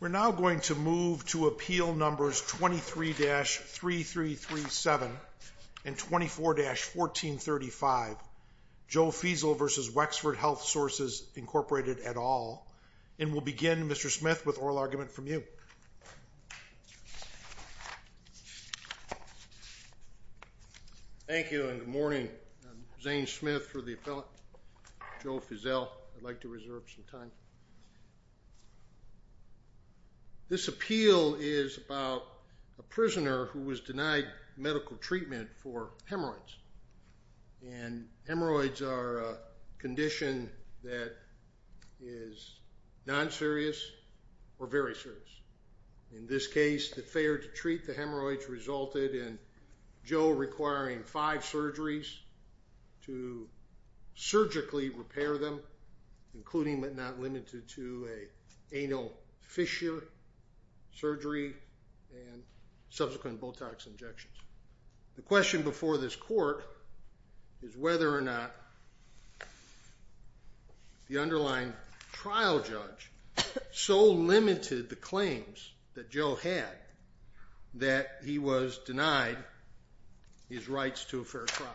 We're now going to move to Appeal Numbers 23-3337 and 24-1435, Joe Feazell v. Wexford Health Sources, Inc. at all. And we'll begin, Mr. Smith, with oral argument from you. Thank you and good morning. I'm Zane Smith for the appellate, Joe Feazell. I'd like to reserve some time. This appeal is about a prisoner who was denied medical treatment for hemorrhoids. And hemorrhoids are a condition that is non-serious or very serious. In this case, the failure to treat the hemorrhoids resulted in Joe requiring five surgeries to surgically repair them, including but not limited to an anal fissure surgery and subsequent Botox injections. The question before this court is whether or not the underlying trial judge so limited the claims that Joe had that he was denied his rights to a fair trial.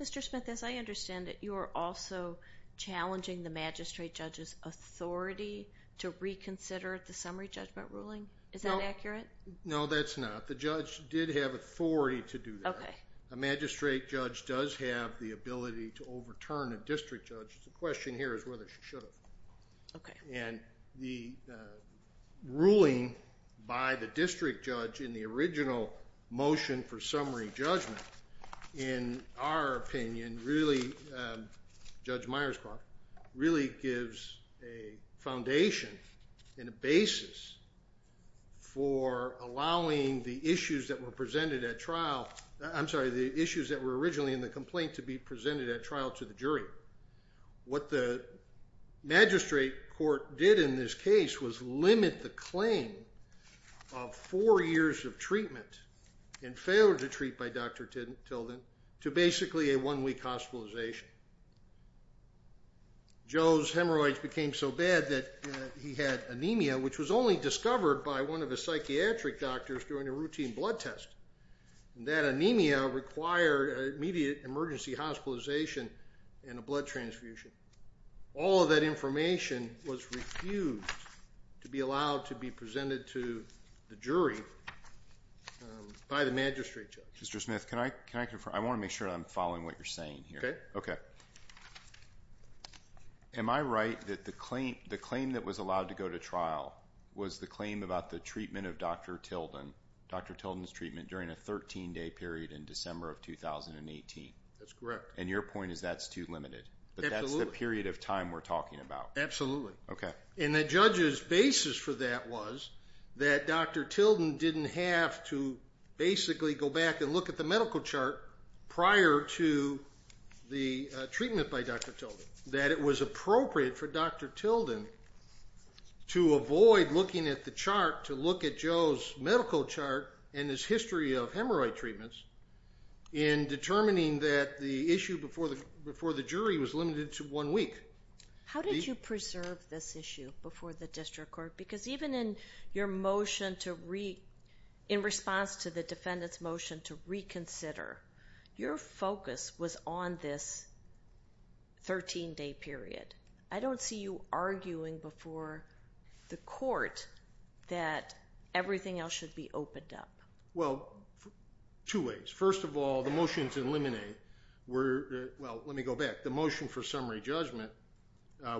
Mr. Smith, as I understand it, you are also challenging the magistrate judge's authority to reconsider the summary judgment ruling? Is that accurate? No, that's not. The judge did have authority to do that. A magistrate judge does have the ability to overturn a district judge. The question here is whether she should have. And the ruling by the district judge in the original motion for summary judgment, in our opinion, really gives a foundation and a basis for allowing the issues that were presented at trial, I'm sorry, the issues that were originally in the complaint to be presented at trial to the jury. What the magistrate court did in this case was limit the claim of four years of treatment and failure to treat by Dr. Tilden to basically a one-week hospitalization. Joe's hemorrhoids became so bad that he had anemia, which was only discovered by one of his psychiatric doctors during a routine blood test. That anemia required immediate emergency hospitalization and a blood transfusion. All of that information was refused to be allowed to be presented to the jury by the magistrate judge. Mr. Smith, can I confirm? I want to make sure I'm following what you're saying here. Okay. Okay. Am I right that the claim that was allowed to go to trial was the claim about the treatment of Dr. Tilden, Dr. Tilden's treatment, during a 13-day period in December of 2018? That's correct. And your point is that's too limited? Absolutely. But that's the period of time we're talking about? Absolutely. And the judge's basis for that was that Dr. Tilden didn't have to basically go back and look at the medical chart prior to the treatment by Dr. Tilden. That it was appropriate for Dr. Tilden to avoid looking at the chart, to look at Joe's medical chart and his history of hemorrhoid treatments in determining that the issue before the jury was limited to one week. How did you preserve this issue before the district court? Because even in your motion to, in response to the defendant's motion to reconsider, your focus was on this 13-day period. I don't see you arguing before the court that everything else should be opened up. Well, two ways. First of all, the motions in limine were, well let me go back. The motion for summary judgment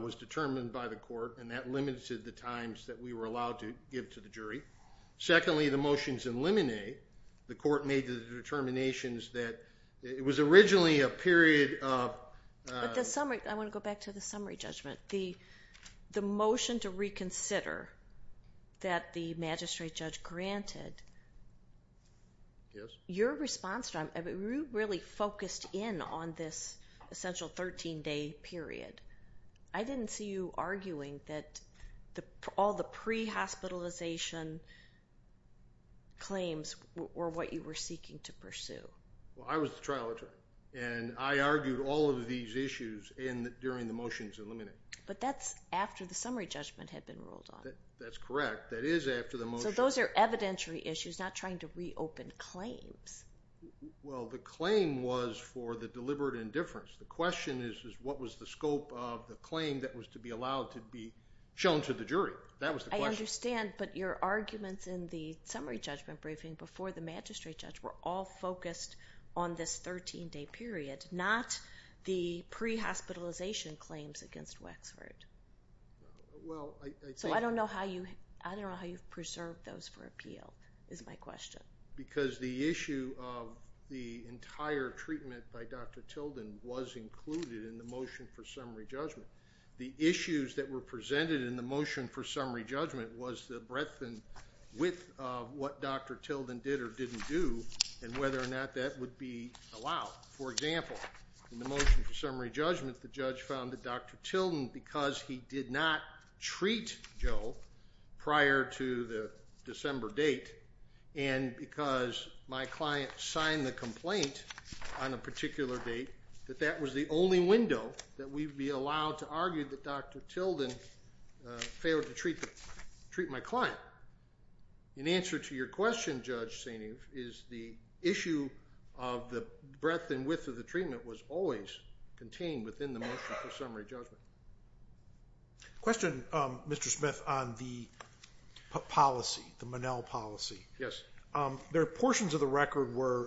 was determined by the court and that limited the times that we were allowed to give to the jury. Secondly, the motions in limine, the court made the determinations that it was originally a period of... But the summary, I want to go back to the summary judgment. The motion to reconsider that the magistrate judge granted, your response really focused in on this essential 13-day period. I didn't see you arguing that all the pre-hospitalization claims were what you were seeking to pursue. Well, I was the trial attorney and I argued all of these issues during the motions in limine. But that's after the summary judgment had been rolled on. That's correct. That is after the motion... So those are evidentiary issues, not trying to reopen claims. Well, the claim was for the deliberate indifference. The question is what was the scope of the claim that was to be allowed to be shown to the jury. That was the question. I understand, but your arguments in the summary judgment briefing before the magistrate judge were all focused on this 13-day period, not the pre-hospitalization claims against Wexford. So I don't know how you preserved those for appeal, is my question. Because the issue of the entire treatment by Dr. Tilden was included in the motion for summary judgment. The issues that were presented in the motion for summary judgment was the breadth and width of what Dr. Tilden did or didn't do and whether or not that would be allowed. For example, in the motion for summary judgment, the judge found that Dr. Tilden, because he did not treat Joe prior to the December date, and because my client signed the complaint on a particular date, that that was the only window that we'd be allowed to argue that Dr. Tilden failed to treat my client. In answer to your question, Judge Saini, is the issue of the breadth and width of the treatment was always contained within the motion for summary judgment. Question, Mr. Smith, on the policy, the Monell policy. There are portions of the record where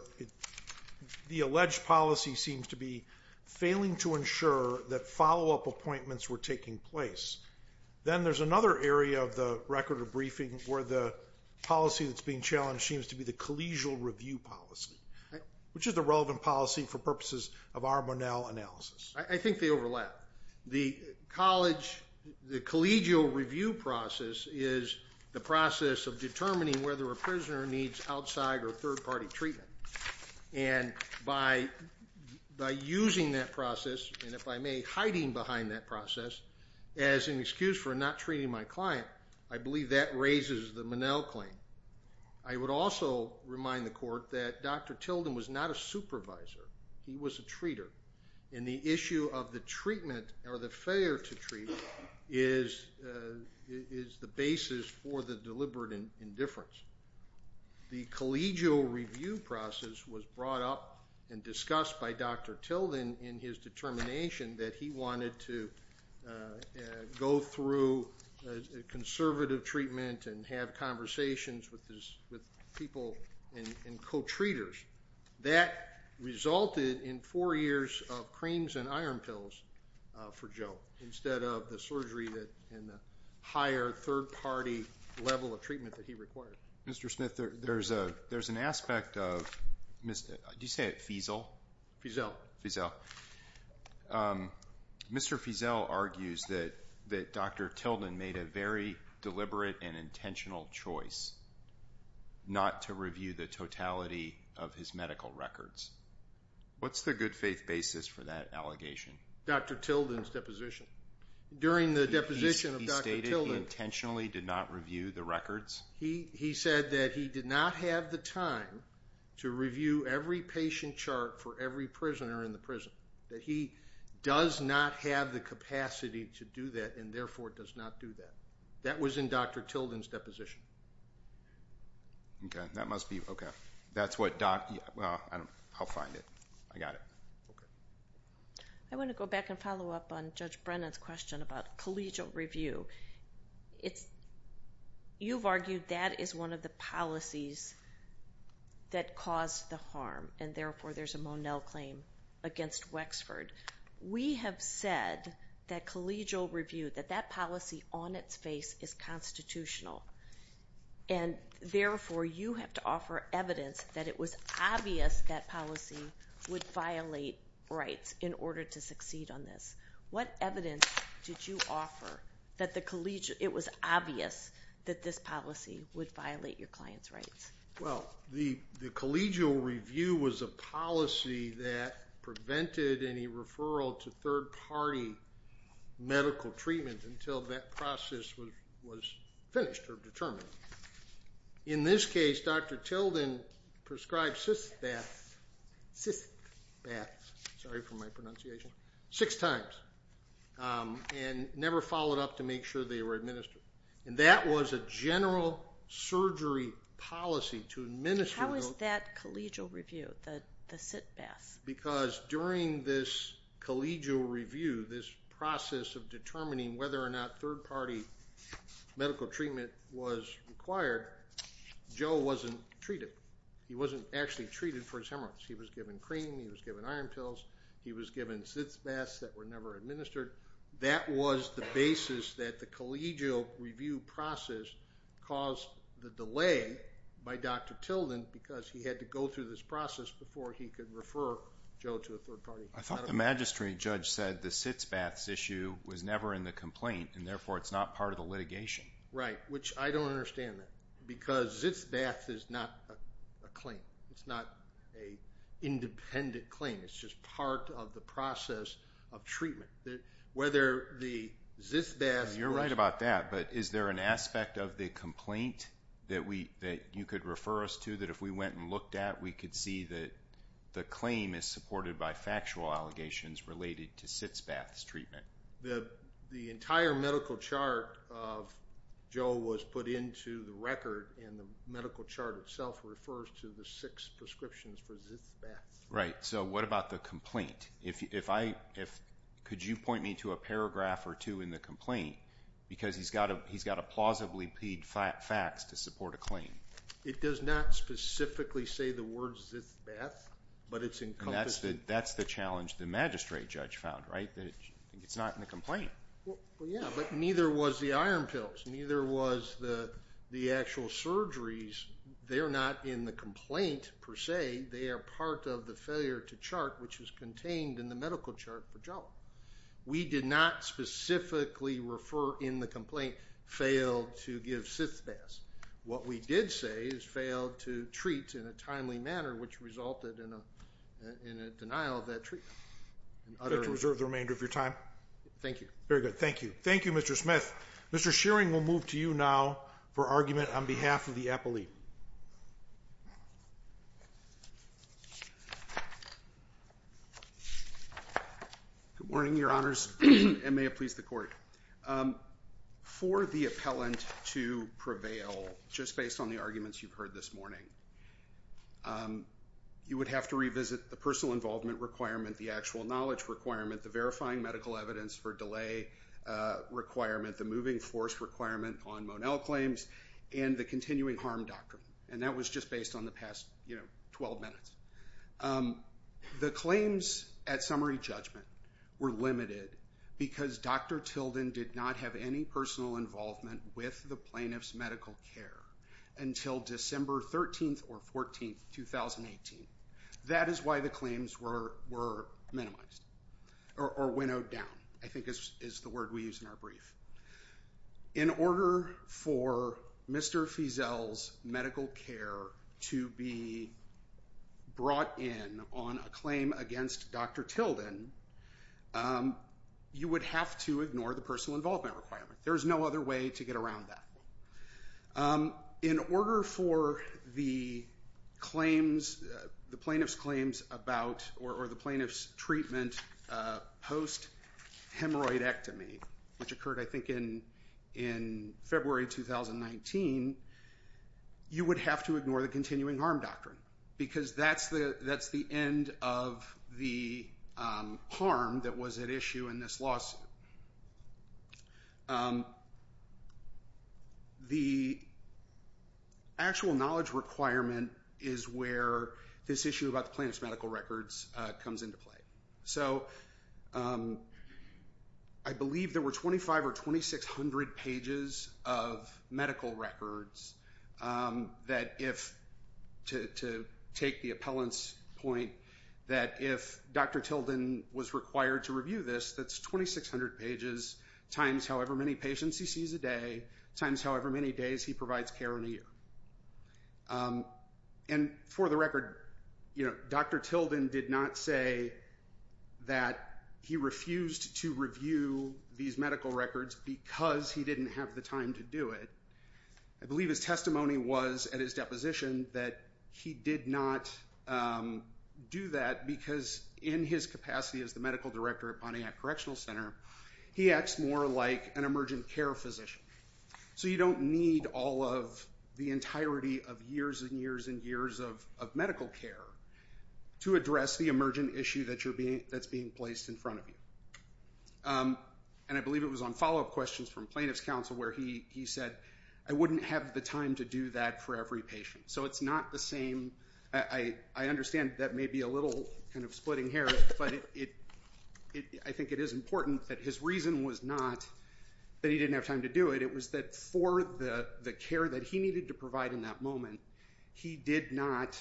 the alleged policy seems to be failing to ensure that follow-up appointments were taking place. Then there's another area of the record of briefing where the policy that's being challenged seems to be the collegial review policy. Which is the relevant policy for purposes of our Monell analysis? I think they overlap. The collegial review process is the process of determining whether a prisoner needs outside or third-party treatment. By using that process, and if I may, hiding behind that process, as an excuse for not treating my client, I believe that raises the Monell claim. I would also remind the Court that Dr. Tilden was not a supervisor. He was a treater. The issue of the treatment or the failure to treat is the basis for the deliberate indifference. The collegial review process was brought up and discussed by Dr. Tilden in his determination that he wanted to go through a conservative treatment and have conversations with people and co-treaters. That resulted in four years of creams and iron pills for Joe instead of the surgery and higher third-party level of treatment that he required. Mr. Smith, there's an aspect of, did you say Fiesel? Fiesel. Mr. Fiesel argues that Dr. Tilden made a very deliberate and intentional choice not to review the totality of his medical records. What's the good faith basis for that allegation? Dr. Tilden's deposition. During the deposition of Dr. Tilden. He stated he intentionally did not review the records? He said that he did not have the time to review every patient chart for every prisoner in the prison. That he does not have the capacity to do that and therefore does not do that. That was in Dr. Tilden's deposition. Okay, that must be, okay. That's what Dr., I'll find it. I got it. I want to go back and follow up on Judge Brennan's question about collegial review. You've argued that is one of the policies that caused the harm and therefore there's a Monell claim against Wexford. We have said that collegial review, that that policy on its face is constitutional and therefore you have to offer evidence that it was obvious that policy would violate rights in order to succeed on this. What evidence did you offer that the collegial, it was obvious that this policy would violate your client's rights? Well, the collegial review was a policy that prevented any referral to third party medical treatment until that process was finished or determined. In this case, Dr. Tilden prescribed cyst baths, cyst baths, sorry for my pronunciation, six times and never followed up to make sure they were administered. And that was a general surgery policy to administer those. How is that collegial review, the cyst baths? Because during this collegial review, this process of determining whether or not third party medical treatment was required, Joe wasn't treated. He wasn't actually treated for his hemorrhoids. He was given cream, he was given iron pills, he was given cyst baths that were never administered. That was the basis that the collegial review process caused the delay by Dr. Tilden because he had to go through this process before he could refer Joe to a third party. I thought the magistrate judge said the cyst baths issue was never in the complaint and therefore it's not part of the litigation. Right, which I don't understand that because cyst baths is not a claim. It's not an independent claim. It's just part of the process of treatment. Whether the cyst baths... You're right about that, but is there an aspect of the complaint that you could refer us to that if we went and looked at, we could see that the claim is supported by factual allegations related to cyst baths treatment? The entire medical chart of Joe was put into the record and the medical chart itself refers to the six prescriptions for cyst baths. Right, so what about the complaint? Could you point me to a paragraph or two in the complaint? Because he's got to plausibly feed facts to support a claim. It does not specifically say the word cyst baths, but it's encompassed... That's the challenge the magistrate judge found, right? It's not in the complaint. Well, yeah, but neither was the iron pills. Neither was the actual surgeries. They're not in the complaint per se. They are part of the failure to chart, which was contained in the medical chart for Joe. We did not specifically refer in the complaint, failed to give cyst baths. What we did say is failed to treat in a timely manner, which resulted in a denial of that treatment. Is that to reserve the remainder of your time? Thank you. Very good, thank you. Thank you, Mr. Smith. Mr. Shearing will move to you now for argument on behalf of the appellee. Good morning, Your Honors, and may it please the Court. For the appellant to prevail, just based on the arguments you've heard this morning, you would have to revisit the personal involvement requirement, the actual knowledge requirement, the verifying medical evidence for delay requirement, the moving force requirement on Monell claims, and the continuing harm doctrine. And that was just based on the past, you know, 12 minutes. The claims at summary judgment were limited because Dr. Tilden did not have any personal involvement with the plaintiff's medical care until December 13th or 14th, 2018. That is why the claims were minimized or winnowed down, I think is the word we use in our brief. In order for Mr. Feazell's medical care to be brought in on a claim against Dr. Tilden, you would have to ignore the personal involvement requirement. There's no other way to get around that. In order for the plaintiff's claims about or the plaintiff's treatment post-hemorrhoidectomy, which occurred, I think, in February 2019, you would have to ignore the continuing harm doctrine because that's the end of the harm that was at issue in this lawsuit. The actual knowledge requirement is where this issue about the plaintiff's medical records comes into play. So I believe there were 2,500 or 2,600 pages of medical records that if, to take the appellant's point, that if Dr. Tilden was required to review this, that's 2,600 pages times however many patients he sees a day times however many days he provides care in a year. And for the record, Dr. Tilden did not say that he refused to review these medical records because he didn't have the time to do it. I believe his testimony was at his deposition that he did not do that because in his capacity as the medical director at Pontiac Correctional Center, he acts more like an emergent care physician. So you don't need all of the entirety of years and years and years of medical care to address the emergent issue that's being placed in front of you. And I believe it was on follow-up questions from plaintiff's counsel where he said, I wouldn't have the time to do that for every patient. So it's not the same. I understand that may be a little kind of splitting hair, but I think it is important that his reason was not that he didn't have time to do it. It was that for the care that he needed to provide in that moment, he did not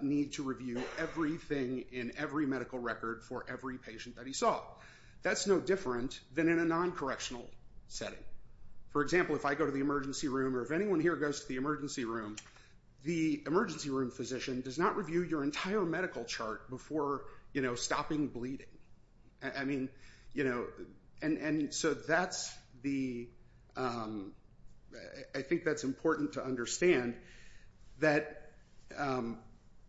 need to review everything in every medical record for every patient that he saw. That's no different than in a non-correctional setting. For example, if I go to the emergency room or if anyone here goes to the emergency room, the emergency room physician does not review your entire medical chart before stopping bleeding. I think that's important to understand that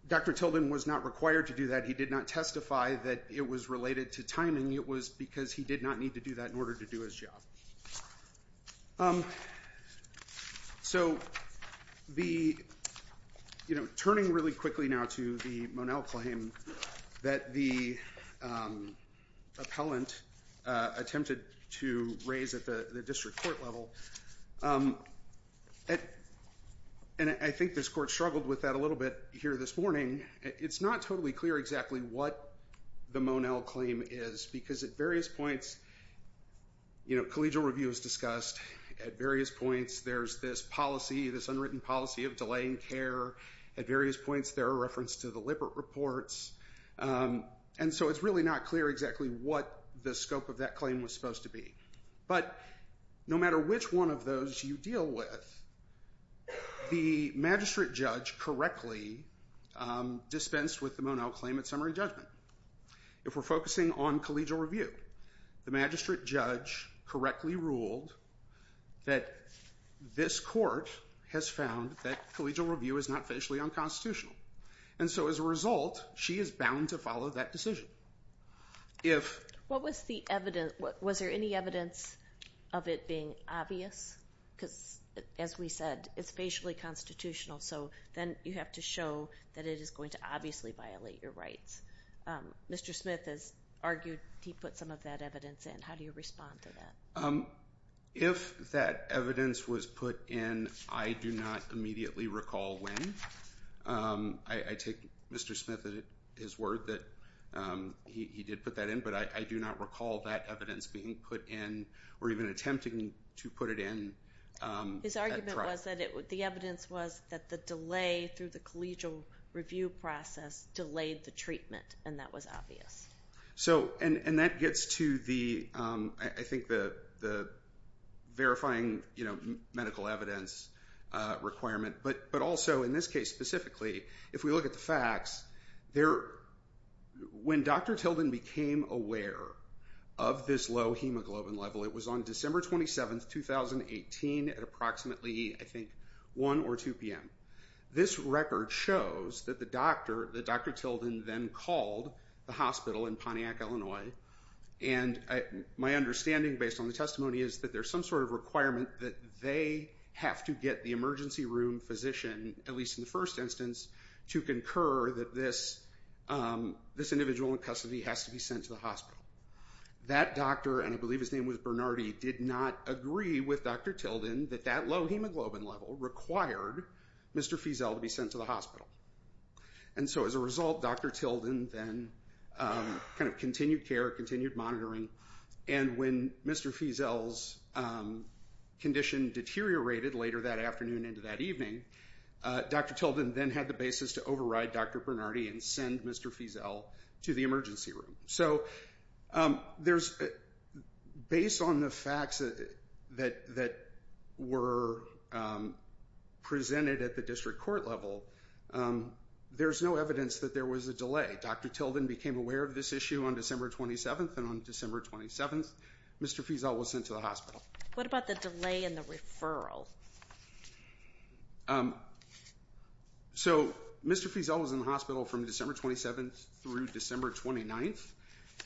Dr. Tilden was not required to do that. He did not testify that it was related to timing. It was because he did not need to do that in order to do his job. So turning really quickly now to the Monell claim that the appellant attempted to raise at the district court level, and I think this court struggled with that a little bit here this morning, it's not totally clear exactly what the Monell claim is because at various points, collegial review is discussed, at various points there's this policy, this unwritten policy of delaying care, at various points there are references to the Lippert reports, and so it's really not clear exactly what the scope of that claim was supposed to be. But no matter which one of those you deal with, the magistrate judge correctly dispensed with the Monell claim at summary judgment. If we're focusing on collegial review, the magistrate judge correctly ruled that this court has found that collegial review is not facially unconstitutional. And so as a result, she is bound to follow that decision. What was the evidence? Was there any evidence of it being obvious? Because as we said, it's facially constitutional, so then you have to show that it is going to obviously violate your rights. Mr. Smith has argued he put some of that evidence in. How do you respond to that? If that evidence was put in, I do not immediately recall when. I take Mr. Smith at his word that he did put that in, but I do not recall that evidence being put in or even attempting to put it in. His argument was that the evidence was that the delay through the collegial review process delayed the treatment, and that was obvious. And that gets to, I think, the verifying medical evidence requirement. But also, in this case specifically, if we look at the facts, when Dr. Tilden became aware of this low hemoglobin level, it was on December 27, 2018, at approximately, I think, 1 or 2 p.m., this record shows that Dr. Tilden then called the hospital in Pontiac, Illinois, and my understanding, based on the testimony, is that there's some sort of requirement that they have to get the emergency room physician, at least in the first instance, to concur that this individual in custody has to be sent to the hospital. That doctor, and I believe his name was Bernardi, did not agree with Dr. Tilden that that low hemoglobin level required Mr. Fiesel to be sent to the hospital. And so, as a result, Dr. Tilden then kind of continued care, continued monitoring, and when Mr. Fiesel's condition deteriorated later that afternoon into that evening, Dr. Tilden then had the basis to override Dr. Bernardi and send Mr. Fiesel to the emergency room. So, based on the facts that were presented at the district court level, there's no evidence that there was a delay. Dr. Tilden became aware of this issue on December 27th, and on December 27th, Mr. Fiesel was sent to the hospital. What about the delay in the referral? So, Mr. Fiesel was in the hospital from December 27th through December 29th,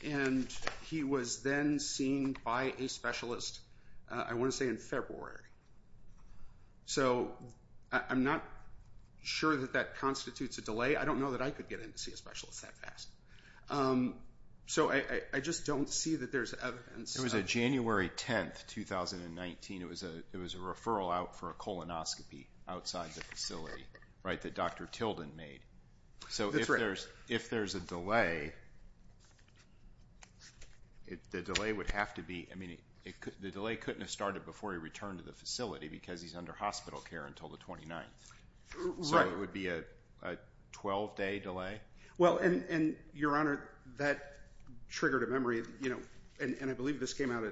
and he was then seen by a specialist, I want to say, in February. So, I'm not sure that that constitutes a delay. I don't know that I could get in to see a specialist that fast. So, I just don't see that there's evidence. It was a January 10th, 2019. It was a referral out for a colonoscopy outside the facility, right, that Dr. Tilden made. So, if there's a delay, the delay would have to be, I mean, the delay couldn't have started before he returned to the facility because he's under hospital care until the 29th. So, it would be a 12-day delay? Well, and Your Honor, that triggered a memory, and I believe this came out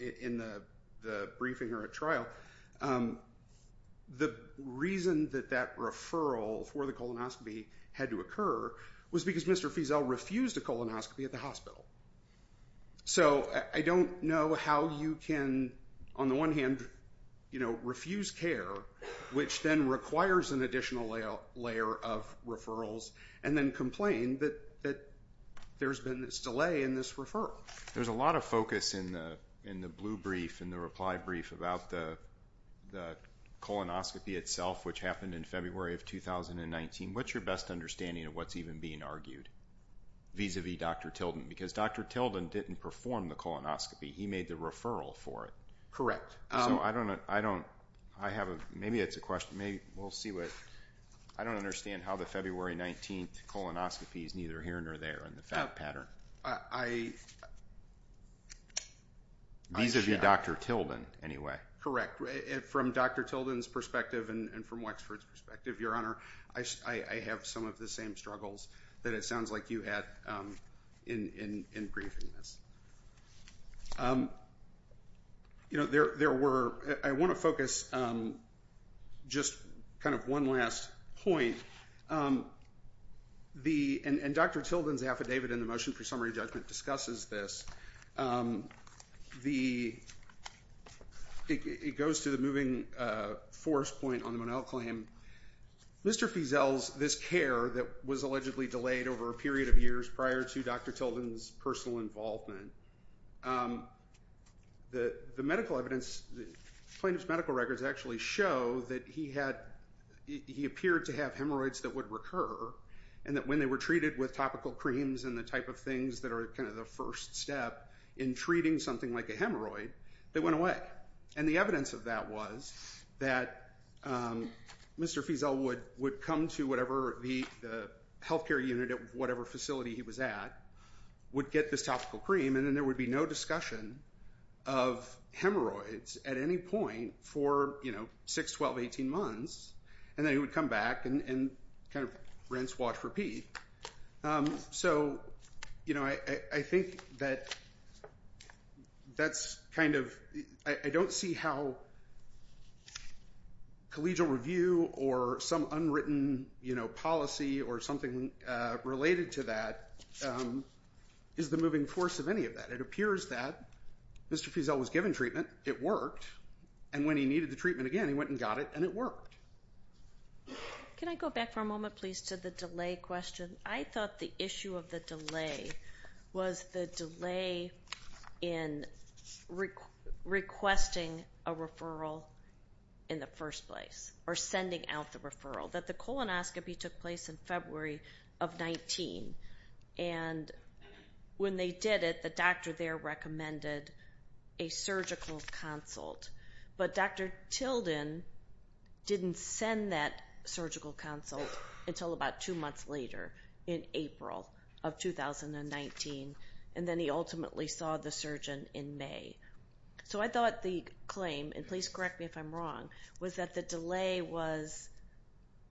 in the briefing or at trial. The reason that that referral for the colonoscopy had to occur was because Mr. Feazell refused a colonoscopy at the hospital. So, I don't know how you can, on the one hand, you know, refuse care, which then requires an additional layer of referrals, and then complain that there's been this delay in this referral. There's a lot of focus in the blue brief, in the reply brief about the colonoscopy itself, which happened in February of 2019. What's your best understanding of what's even being argued vis-a-vis Dr. Tilden? Because Dr. Tilden didn't perform the colonoscopy. He made the referral for it. So, I don't know, I don't, I have a, maybe it's a question, maybe, we'll see what, I don't understand how the February 19th colonoscopy is neither here nor there in the fact pattern. I... Vis-a-vis Dr. Tilden, anyway. Correct. From Dr. Tilden's perspective, and from Wexford's perspective, Your Honor, I have some of the same struggles that it sounds like you had in briefing this. You know, there were, I want to focus just kind of one last point. The, and Dr. Tilden's affidavit in the motion for summary judgment discusses this. The, it goes to the moving force point on the Monell claim. Mr. Feazell's, this care that was allegedly delayed over a period of years prior to Dr. Tilden's personal involvement, the medical evidence, plaintiff's medical records actually show that he had, he appeared to have hemorrhoids that would recur, and that when they were treated with topical creams and the type of things that are kind of the first step in treating something like a hemorrhoid, they went away. And the evidence of that was that Mr. Feazell would come to whatever the health care unit at whatever facility he was at, would get this topical cream, and then there would be no discussion of hemorrhoids at any point for, you know, 6, 12, 18 months, and then he would come back and kind of rinse, wash, repeat. So, you know, I think that that's kind of, I don't see how collegial review or some unwritten, you know, policy or something related to that is the moving force of any of that. It appears that Mr. Feazell was given treatment, it worked, and when he needed the treatment again, he went and got it, and it worked. Can I go back for a moment, please, to the delay question? I thought the issue of the delay was the delay in requesting a referral in the first place, or sending out the referral, that the colonoscopy took place in February of 19, and when they did it, the doctor there recommended a surgical consult, but Dr. Tilden didn't send that surgical consult until about 2 months later, in April of 2019, and then he ultimately saw the surgeon in May. So I thought the claim, and please correct me if I'm wrong, was that the delay was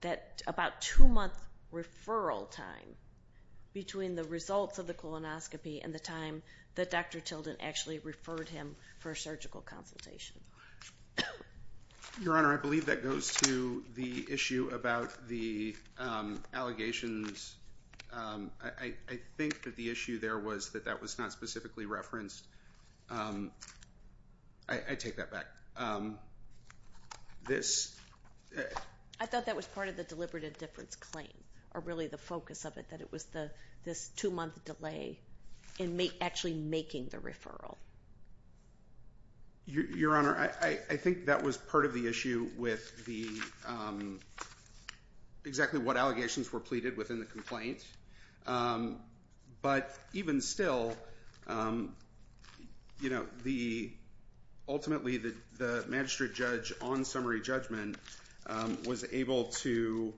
that about 2 month referral time between the results of the colonoscopy and the time that Dr. Tilden actually referred him for a surgical consultation. Your Honor, I believe that goes to the issue about the allegations I think that the issue there was that that was not specifically referenced. I take that back. This... I thought that was part of the deliberate indifference claim, or really the focus of it, that it was this 2 month delay in actually making the Your Honor, I think that was part of the issue with the exactly what allegations were pleaded within the complaint but even still you know, the ultimately the magistrate judge on summary judgment was able to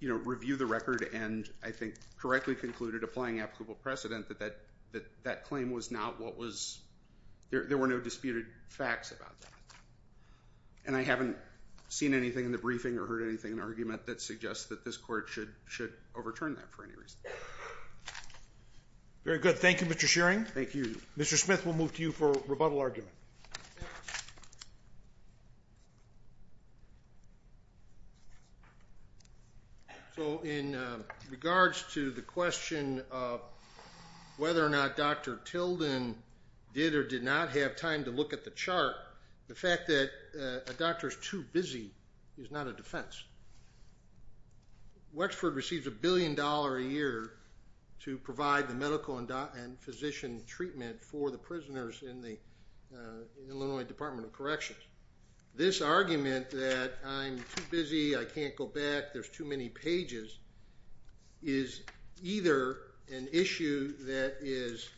review the record and I think correctly concluded applying applicable precedent that that claim was not what was there were no disputed facts about that. And I haven't seen anything in the briefing or heard anything in argument that suggests that this court should overturn that for any reason. Very good. Thank you Mr. Shearing. Thank you. Mr. Smith, we'll move to you for rebuttal argument. So in regards to the question of whether or not Dr. Tilden did or did not have time to look at the chart, the fact that a doctor is too busy is not a defense. Wexford receives a billion dollar a year to provide the medical and physician treatment for the prisoners in the Illinois Department of Corrections. This argument that I'm too busy, I can't go back, there's too many pages is either an issue that is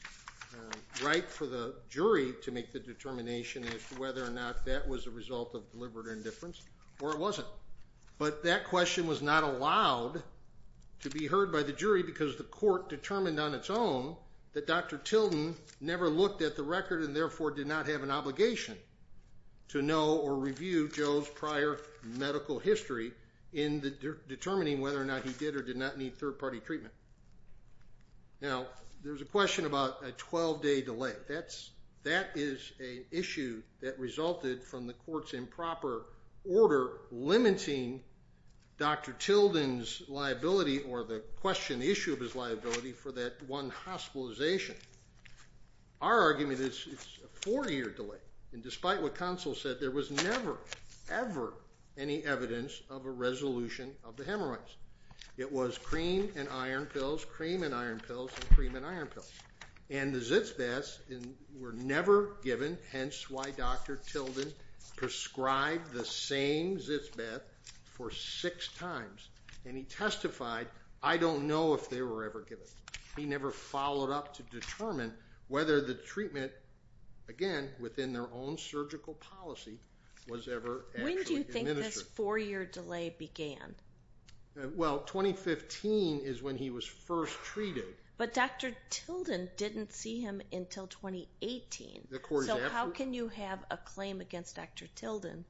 ripe for the jury to make the determination as to whether or not that was a result of deliberate indifference or it wasn't. But that question was not allowed to be heard by the jury because the court determined on its own that Dr. Tilden never looked at the record and therefore did not have an obligation to know or review Joe's prior medical history in determining whether or not he did or did not need third party treatment. Now there's a question about a 12 day delay that is an issue that resulted from the court's improper order limiting Dr. Tilden's liability or the question, the issue of his liability for that one hospitalization. Our argument is it's a four year delay and despite what counsel said there was never ever any evidence of a resolution of the hemorrhoids. It was cream and iron pills, cream and iron pills and the Zitz baths were never given hence why Dr. Tilden prescribed the same Zitz bath for six times and he testified I don't know if they were ever given. He never followed up to determine whether the treatment again within their own surgical policy was ever administered. When do you think this four year delay began? Well 2015 is when he was first treated. But Dr. Tilden didn't see him until 2018. So how can you have a claim against Dr. Tilden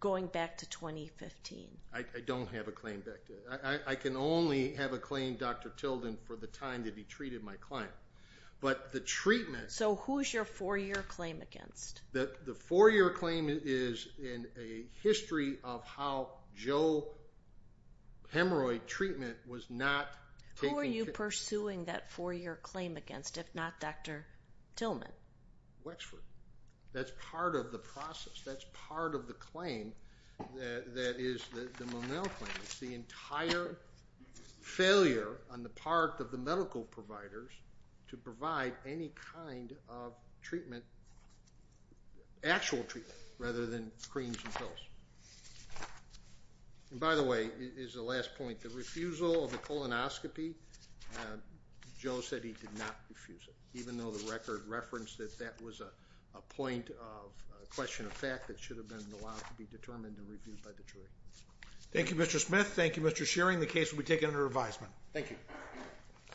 going back to 2015? I don't have a claim. I can only have a claim Dr. Tilden for the time that he treated my client. But the treatment. So who's your four year claim against? The four year claim is in a history of how Joe hemorrhoid treatment was not taken. Who are you pursuing that four year claim against if not Dr. Tilden? Wexford. That's part of the process. That's part of the claim that is the Monell claim. It's the entire failure on the part of the medical providers to provide any kind of treatment other than actual Actual treatment rather than creams and pills. And by the way is the last point. The refusal of the colonoscopy Joe said he did not refuse it. Even though the record referenced that that was a point of question of fact that should have been allowed to be determined and reviewed by the jury. Thank you Mr. Smith. Thank you Mr. Shearing. The case will be taken under advisement. Thank you.